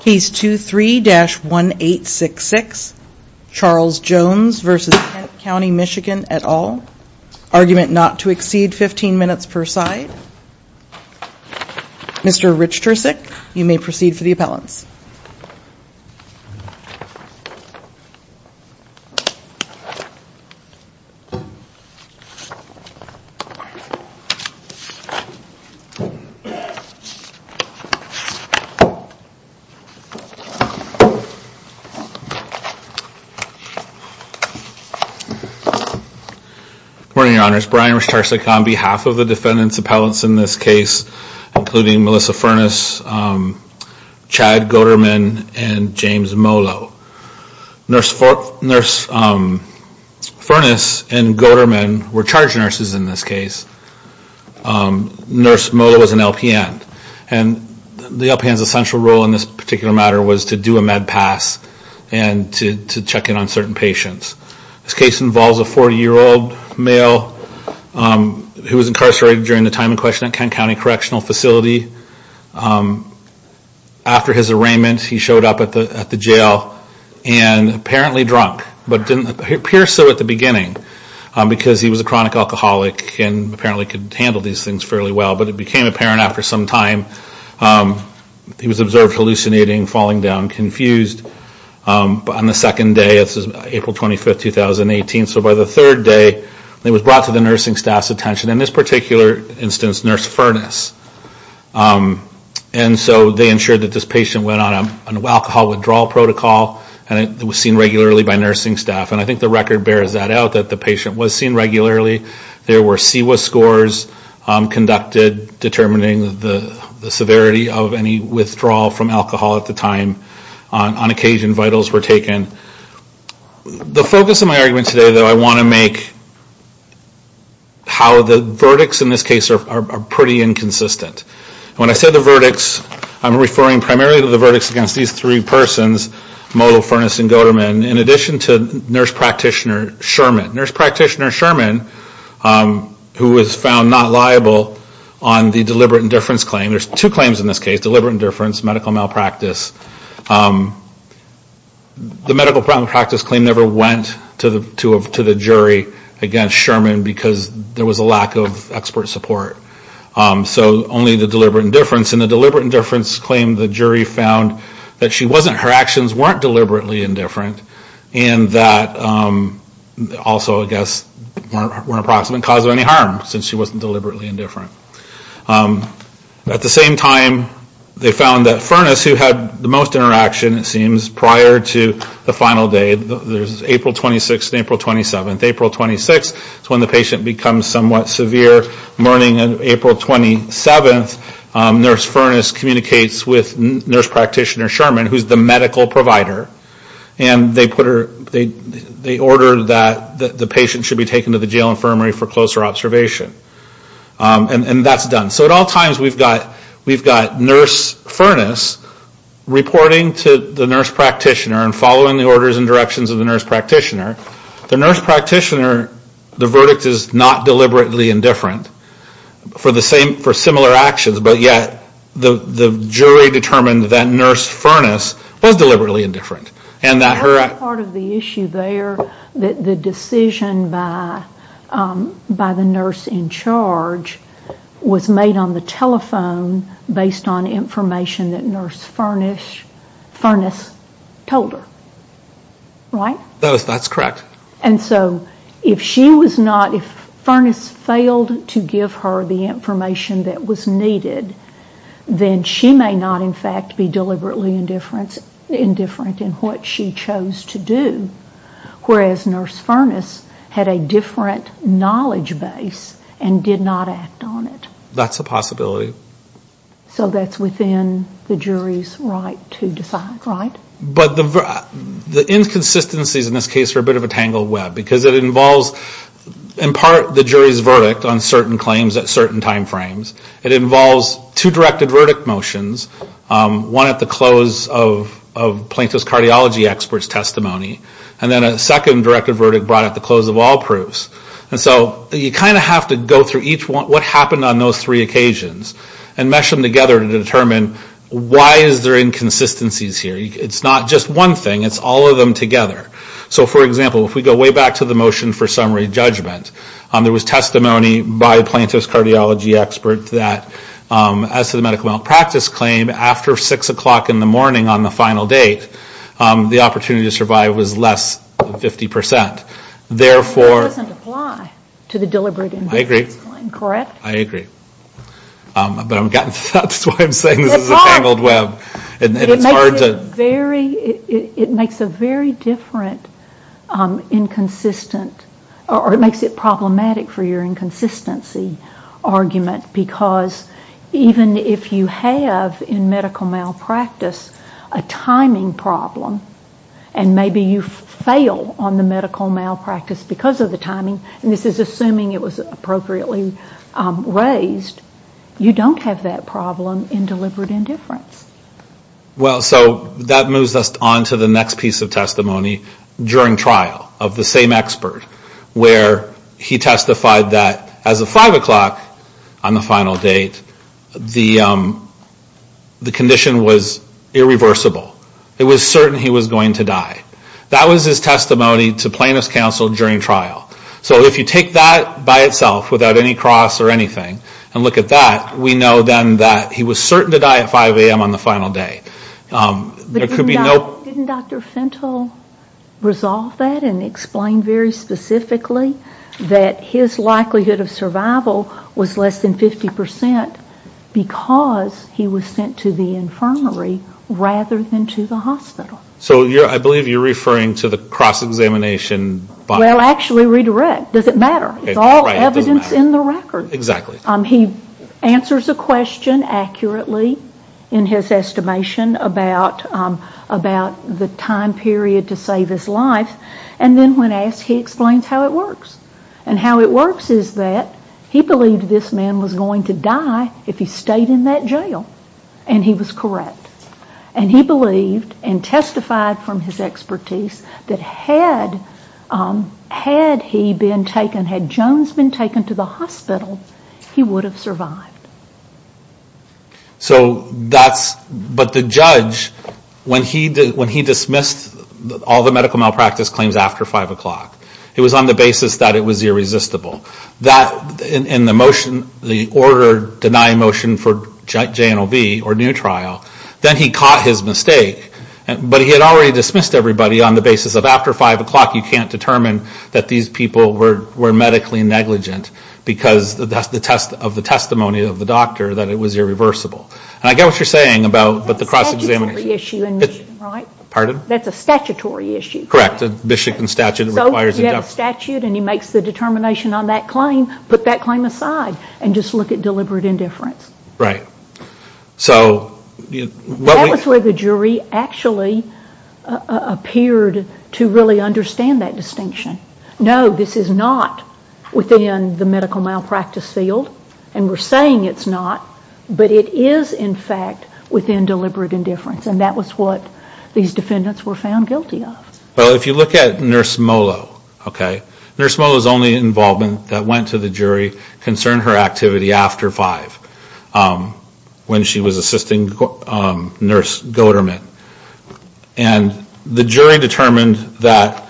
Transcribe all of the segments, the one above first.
Case 23-1866, Charles Jones v. Kent County, MI et al. Argument not to exceed 15 minutes per side. Mr. Richtersick, you may proceed for the appellants. Good morning, your honors. Brian Richtersick on behalf of the defendant's appellants in this case, including Melissa Furness, Chad Goederman, and James Molo. Nurse Furness and Goederman were charge nurses in this case. Nurse Molo was an LPN and the LPN's essential role in this particular matter was to do a med pass and to check in on certain patients. This case involves a 40-year-old male who was incarcerated during the time in question at Kent County Correctional Facility. After his arraignment, he showed up at the jail and apparently drunk, but didn't appear so at the beginning because he was a chronic alcoholic and apparently could handle these things fairly well. But it became apparent after some time, he was observed hallucinating, falling down, confused. On the second day, this is April 25, 2018, so by the third day, he was brought to the nursing staff's attention. In this particular instance, Nurse Furness. And so they ensured that this patient went on an alcohol withdrawal protocol and it was seen regularly by nursing staff. And I think the record bears that out, that the patient was seen regularly. There were CEWA scores conducted determining the severity of any withdrawal from alcohol at the time. On occasion, vitals were taken. The focus of my argument today, though, I want to make how the verdicts in this case are pretty inconsistent. When I say the verdicts, I'm referring primarily to the verdicts against these three persons, Molo, Furness, and Goederman. In addition to Nurse Practitioner Sherman. Nurse Practitioner Sherman, who was found not liable on the deliberate indifference claim. There's two claims in this case. Deliberate indifference, medical malpractice. The medical malpractice claim never went to the jury against Sherman because there was a lack of expert support. So only the deliberate indifference. And the deliberate indifference claim, the jury found that she wasn't, her actions weren't deliberately indifferent. And that also, I guess, weren't a proximate cause of any harm since she wasn't deliberately indifferent. At the same time, they found that Furness, who had the most interaction, it seems, prior to the final day. There's April 26th and April 27th. April 26th is when the patient becomes somewhat severe. Morning of April 27th, Nurse Furness communicates with Nurse Practitioner Sherman, who's the medical provider. And they put her, they order that the patient should be taken to the jail infirmary for closer observation. And that's done. So at all times, we've got Nurse Furness reporting to the Nurse Practitioner and following the orders and directions of the Nurse Practitioner. The Nurse Practitioner, the verdict is not deliberately indifferent for similar actions. But yet, the jury determined that Nurse Furness was deliberately indifferent. And that her- That's part of the issue there, that the decision by the nurse in charge was made on the telephone based on information that Nurse Furness told her. Right? That's correct. And so, if she was not, if Furness failed to give her the information that was needed, then she may not in fact be deliberately indifferent in what she chose to do. Whereas Nurse Furness had a different knowledge base and did not act on it. That's a possibility. So that's within the jury's right to decide, right? But the inconsistencies in this case are a bit of a tangled web. Because it involves, in part, the jury's verdict on certain claims at certain time frames. It involves two directed verdict motions. One at the close of Plaintiff's cardiology expert's testimony. And then a second directed verdict brought at the close of all proofs. And so, you kind of have to go through each one, what happened on those three occasions. And mesh them together to determine why is there inconsistencies here. It's not just one thing. It's all of them together. So, for example, if we go way back to the motion for summary judgment, there was testimony by Plaintiff's cardiology expert that as to the medical malpractice claim, after 6 o'clock in the morning on the final date, the opportunity to survive was less than 50%. Therefore... It doesn't apply to the deliberate indifference claim, correct? I agree. I agree. But I'm getting, that's why I'm saying this is a tangled web. It makes it very, it makes a very different inconsistent, or it makes it problematic for your inconsistency argument. Because even if you have in medical malpractice a timing problem, and maybe you fail on the medical malpractice because of the timing, and this is assuming it was appropriately raised, you don't have that problem in deliberate indifference. Well, so that moves us on to the next piece of testimony during trial of the same expert, where he testified that as of 5 o'clock on the final date, the condition was irreversible. It was certain he was going to die. That was his testimony to Plaintiff's counsel during trial. So if you take that by itself, without any cross or anything, and look at that, we know then that he was certain to die at 5 a.m. on the final day. There could be no... But didn't Dr. Fentel resolve that and explain very specifically that his likelihood of survival was less than 50% because he was sent to the infirmary rather than to the hospital? So I believe you're referring to the cross-examination... Well, actually redirect. Does it matter? It's all evidence in the record. Exactly. He answers a question accurately in his estimation about the time period to save his life, and then when asked, he explains how it works. And how it works is that he believed this man was going to die if he stayed in that jail, and he was correct. And he believed and testified from his expertise that had he been taken, had Jones been taken to the hospital, he would have survived. So that's... But the judge, when he dismissed all the medical malpractice claims after 5 o'clock, it was on the basis that it was irresistible. And the motion, the order denying motion for J&OB or new trial, then he caught his mistake. But he had already dismissed everybody on the basis of after 5 o'clock, you can't determine that these people were medically negligent because of the testimony of the doctor that it was irreversible. And I get what you're saying about the cross-examination. That's a statutory issue in Michigan, right? Pardon? That's a statutory issue. Correct. The Michigan statute requires... He has a statute and he makes the determination on that claim, put that claim aside and just look at deliberate indifference. Right. So... That was where the jury actually appeared to really understand that distinction. No, this is not within the medical malpractice field, and we're saying it's not, but it is in fact within deliberate indifference, and that was what these defendants were found guilty of. But if you look at Nurse Molo, okay? Nurse Molo's only involvement that went to the jury concerned her activity after 5, when she was assisting Nurse Goederman. And the jury determined that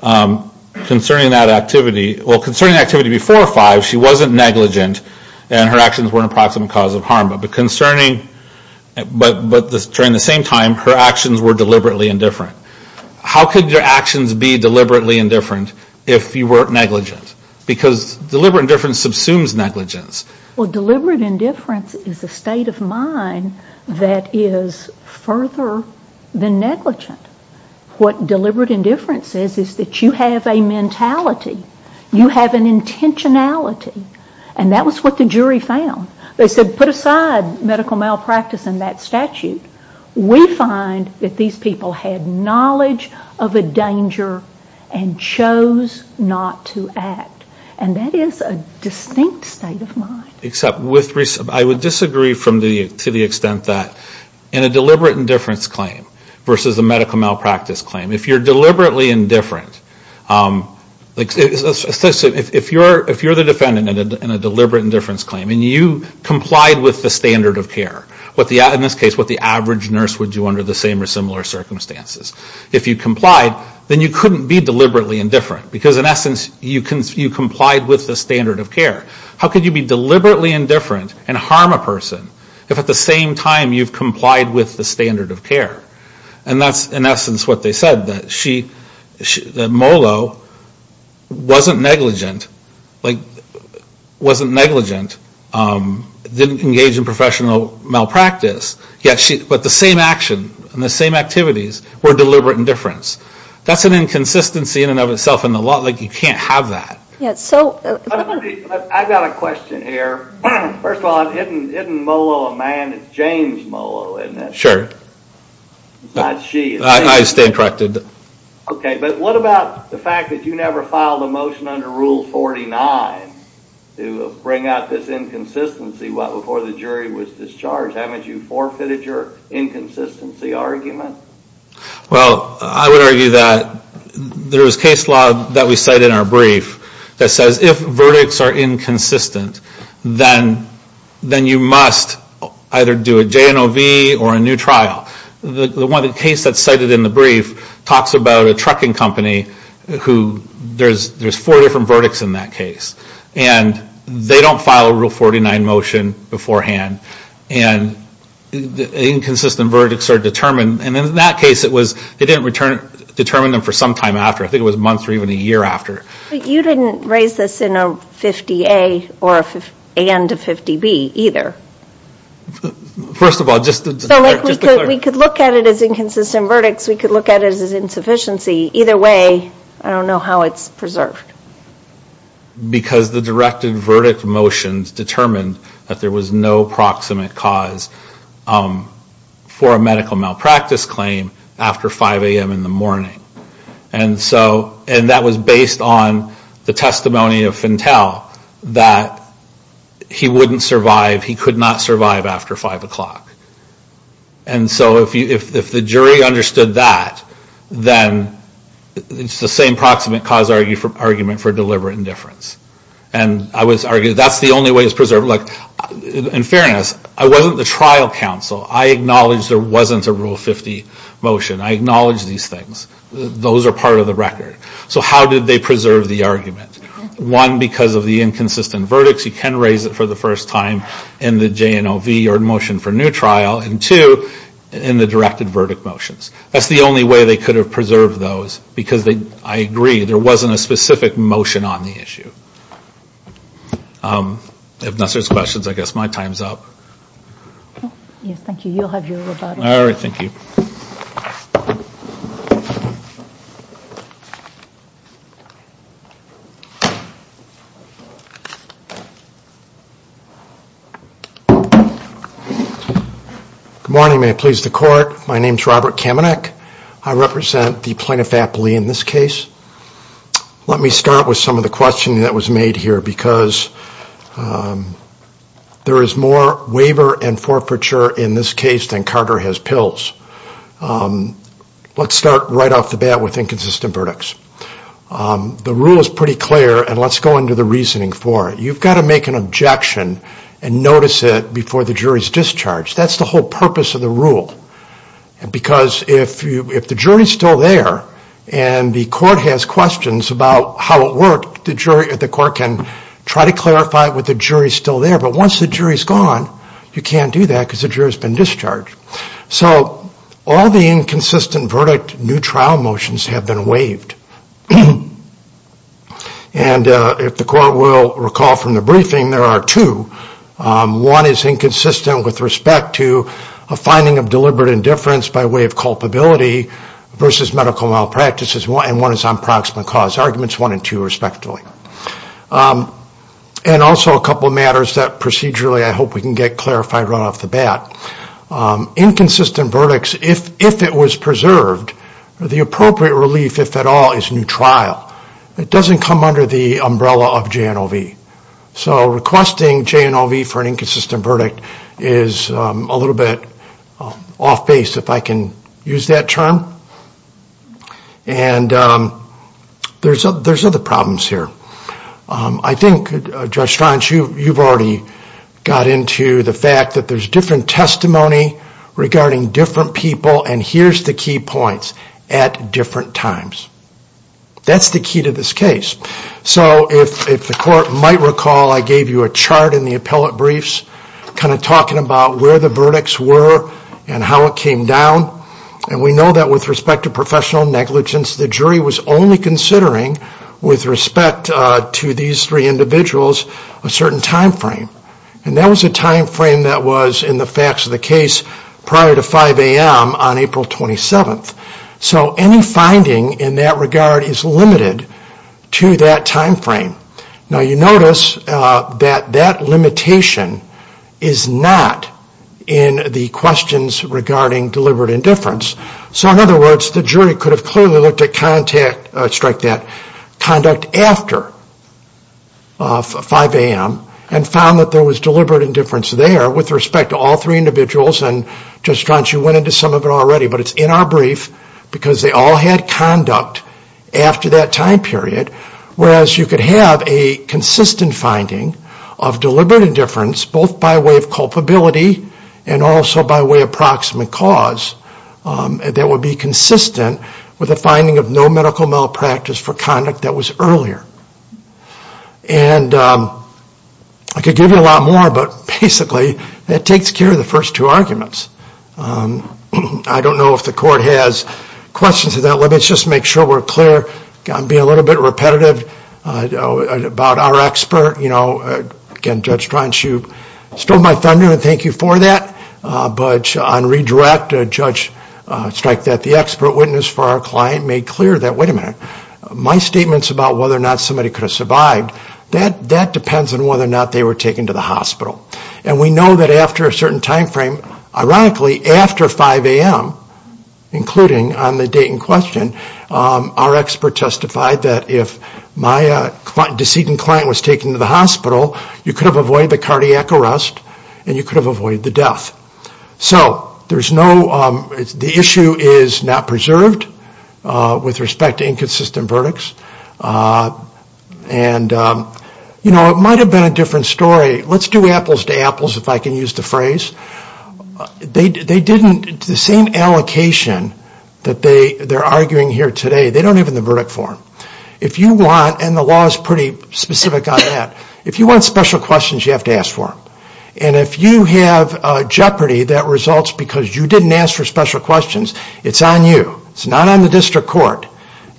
concerning that activity... Well, concerning the activity before 5, she wasn't negligent, and her actions weren't a proximate cause of harm, but concerning... But during the same time, her actions were deliberately indifferent. How could your actions be deliberately indifferent if you weren't negligent? Because deliberate indifference subsumes negligence. Well, deliberate indifference is a state of mind that is further than negligent. What deliberate indifference is is that you have a mentality, you have an intentionality, and that was what the jury found. They said, put aside medical malpractice and that statute. We find that these people had knowledge of a danger and chose not to act, and that is a distinct state of mind. Except with... I would disagree to the extent that in a deliberate indifference claim versus a medical malpractice claim, if you're deliberately indifferent... If you're the defendant in a deliberate indifference claim and you complied with the standard of care, in this case, what the average nurse would do under the same or similar circumstances, if you complied, then you couldn't be deliberately indifferent because, in essence, you complied with the standard of care. How could you be deliberately indifferent and harm a person if, at the same time, you've complied with the standard of care? And that's, in essence, what they said, that Molo wasn't negligent, wasn't negligent, didn't engage in professional malpractice, but the same action and the same activities were deliberate indifference. That's an inconsistency in and of itself, and you can't have that. I've got a question here. First of all, isn't Molo a man? It's James Molo, isn't it? Sure. It's not she. I stand corrected. Okay, but what about the fact that you never filed a motion under Rule 49 to bring out this inconsistency before the jury was discharged? Haven't you forfeited your inconsistency argument? Well, I would argue that there is case law that we cite in our brief that says if verdicts are inconsistent, then you must either do a J&OV or a new trial. The case that's cited in the brief talks about a trucking company who there's four different verdicts in that case, and they don't file a Rule 49 motion beforehand, and inconsistent verdicts are determined. And in that case, it didn't determine them for some time after. I think it was months or even a year after. But you didn't raise this in a 50A and a 50B either. First of all, just to clarify. We could look at it as inconsistent verdicts. We could look at it as insufficiency. Either way, I don't know how it's preserved. Because the directed verdict motions determined that there was no proximate cause for a medical malpractice claim after 5 a.m. in the morning. And that was based on the testimony of Fintel that he wouldn't survive, he could not survive after 5 o'clock. And so if the jury understood that, then it's the same proximate cause argument for deliberate indifference. And I would argue that's the only way it's preserved. In fairness, I wasn't the trial counsel. I acknowledge there wasn't a Rule 50 motion. I acknowledge these things. Those are part of the record. So how did they preserve the argument? One, because of the inconsistent verdicts. We can raise it for the first time in the J&OV or Motion for New Trial. And two, in the directed verdict motions. That's the only way they could have preserved those. Because I agree, there wasn't a specific motion on the issue. If there's no questions, I guess my time's up. Yes, thank you. You'll have your rebuttal. All right, thank you. Good morning. May it please the Court. My name's Robert Kamenek. I represent the plaintiff aptly in this case. Let me start with some of the questioning that was made here because there is more waiver and forfeiture in this case than Carter has pills. Let's start right off the bat with inconsistent verdicts. The rule is pretty clear, and let's go into the reasoning for it. You've got to make an objection and notice it before the jury's discharged. That's the whole purpose of the rule. Because if the jury's still there and the court has questions about how it worked, the court can try to clarify it with the jury still there. But once the jury's gone, you can't do that because the jury's been discharged. So all the inconsistent verdict new trial motions have been waived. And if the court will recall from the briefing, there are two. One is inconsistent with respect to a finding of deliberate indifference by way of culpability versus medical malpractice, and one is on proximate cause, arguments one and two respectively. And also a couple of matters that procedurally I hope we can get clarified right off the bat. Inconsistent verdicts, if it was preserved, the appropriate relief, if at all, is new trial. It doesn't come under the umbrella of J&OV. So requesting J&OV for an inconsistent verdict is a little bit off base, if I can use that term. And there's other problems here. I think, Judge Straunch, you've already got into the fact that there's different testimony regarding different people and here's the key points at different times. That's the key to this case. So if the court might recall, I gave you a chart in the appellate briefs kind of talking about where the verdicts were and how it came down. And we know that with respect to professional negligence, the jury was only considering, with respect to these three individuals, a certain time frame. And that was a time frame that was in the facts of the case prior to 5 a.m. on April 27th. So any finding in that regard is limited to that time frame. Now you notice that that limitation is not in the questions regarding deliberate indifference. So in other words, the jury could have clearly looked at conduct after 5 a.m. and found that there was deliberate indifference there with respect to all three individuals. And Judge Straunch, you went into some of it already, but it's in our brief because they all had conduct after that time period. Whereas you could have a consistent finding of deliberate indifference, both by way of culpability and also by way of proximate cause, that would be consistent with a finding of no medical malpractice for conduct that was earlier. And I could give you a lot more, but basically that takes care of the first two arguments. I don't know if the court has questions of that. Let's just make sure we're clear and be a little bit repetitive about our expert. Again, Judge Straunch, you stole my thunder, and thank you for that. But on redirect, a judge striked that the expert witness for our client made clear that, wait a minute, my statements about whether or not somebody could have survived, that depends on whether or not they were taken to the hospital. And we know that after a certain timeframe, ironically, after 5 a.m., including on the date in question, our expert testified that if my decedent client was taken to the hospital, you could have avoided the cardiac arrest and you could have avoided the death. So the issue is not preserved with respect to inconsistent verdicts. And, you know, it might have been a different story. Let's do apples to apples, if I can use the phrase. They didn't, the same allocation that they're arguing here today, they don't have in the verdict form. If you want, and the law is pretty specific on that, if you want special questions, you have to ask for them. And if you have jeopardy that results because you didn't ask for special questions, it's on you. It's not on the district court.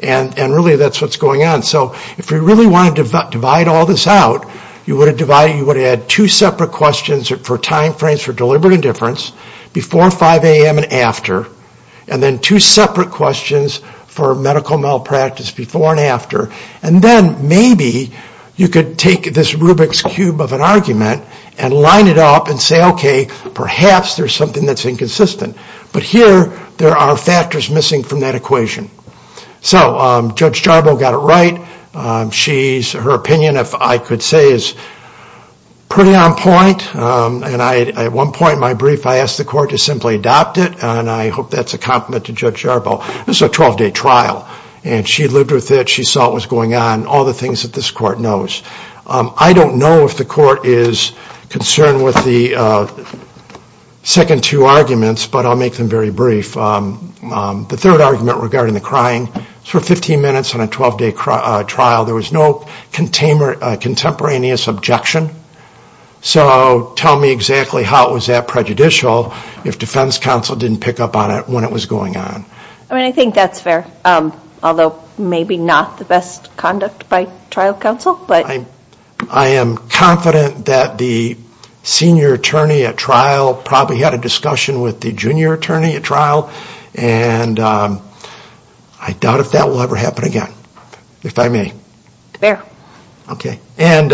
And really that's what's going on. So if we really wanted to divide all this out, you would add two separate questions for timeframes for deliberate indifference, before 5 a.m. and after, and then two separate questions for medical malpractice before and after. And then maybe you could take this Rubik's cube of an argument and line it up and say, okay, perhaps there's something that's inconsistent. But here, there are factors missing from that equation. So Judge Jarboe got it right. Her opinion, if I could say, is pretty on point. And at one point in my brief, I asked the court to simply adopt it. And I hope that's a compliment to Judge Jarboe. This is a 12-day trial. And she lived with it. She saw what was going on, all the things that this court knows. I don't know if the court is concerned with the second two arguments. But I'll make them very brief. The third argument regarding the crying, for 15 minutes on a 12-day trial, there was no contemporaneous objection. So tell me exactly how it was that prejudicial if defense counsel didn't pick up on it when it was going on. I mean, I think that's fair, although maybe not the best conduct by trial counsel. I am confident that the senior attorney at trial probably had a discussion with the junior attorney at trial. And I doubt if that will ever happen again, if I may. Okay. And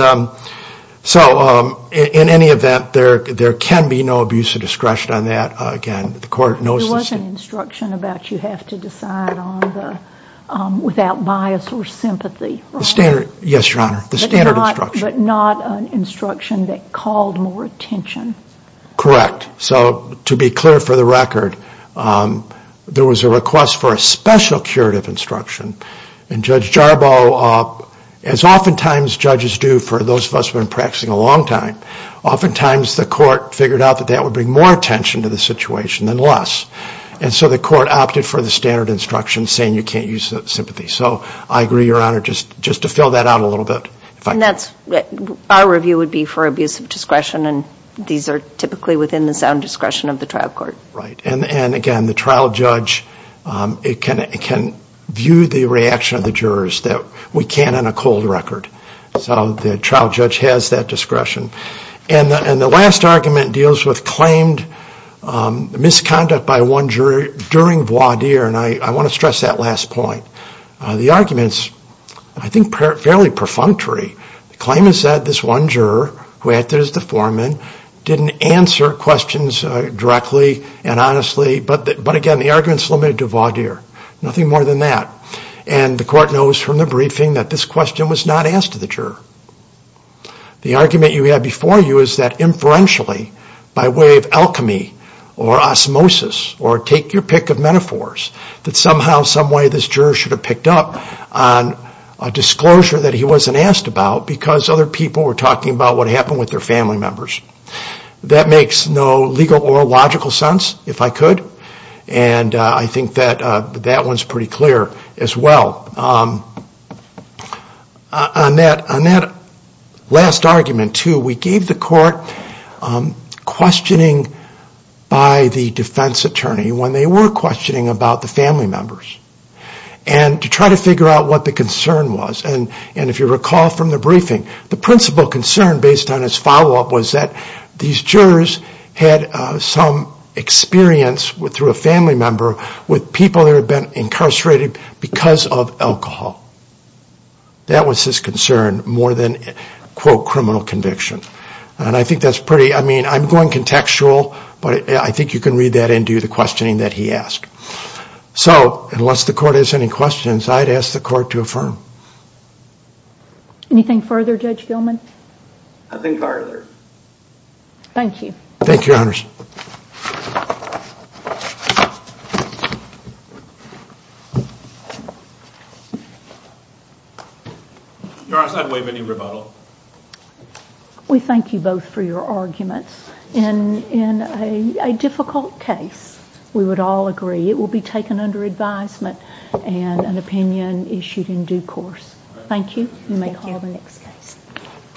so in any event, there can be no abuse of discretion on that. Again, the court knows this. There was an instruction about you have to decide without bias or sympathy. Yes, Your Honor. The standard instruction. But not an instruction that called more attention. Correct. So to be clear for the record, there was a request for a special curative instruction. And Judge Jarbo, as oftentimes judges do for those of us who have been practicing a long time, oftentimes the court figured out that that would bring more attention to the situation than less. And so the court opted for the standard instruction saying you can't use sympathy. So I agree, Your Honor, just to fill that out a little bit. And our review would be for abuse of discretion, and these are typically within the sound discretion of the trial court. Right. And again, the trial judge can view the reaction of the jurors that we can't on a cold record. So the trial judge has that discretion. And the last argument deals with claimed misconduct by one jury during voir dire. And I want to stress that last point. The argument is, I think, fairly perfunctory. The claim is that this one juror who acted as the foreman didn't answer questions directly and honestly. But, again, the argument is limited to voir dire. Nothing more than that. And the court knows from the briefing that this question was not asked to the juror. The argument you had before you is that inferentially, by way of alchemy or osmosis, or take your pick of metaphors, that somehow, some way this juror should have picked up on a disclosure that he wasn't asked about because other people were talking about what happened with their family members. That makes no legal or logical sense, if I could. And I think that that one's pretty clear as well. On that last argument, too, we gave the court questioning by the defense attorney when they were questioning about the family members. And to try to figure out what the concern was. And if you recall from the briefing, the principal concern based on his follow-up was that these jurors had some experience through a family member with people that had been incarcerated because of alcohol. That was his concern more than, quote, criminal conviction. And I think that's pretty, I mean, I'm going contextual, but I think you can read that into the questioning that he asked. So, unless the court has any questions, I'd ask the court to affirm. Anything further, Judge Gilman? Nothing further. Thank you. Thank you, Your Honors. Thank you. Your Honors, I'd waive any rebuttal. We thank you both for your arguments. In a difficult case, we would all agree it will be taken under advisement and an opinion issued in due course. Thank you. Thank you. You may call the next case.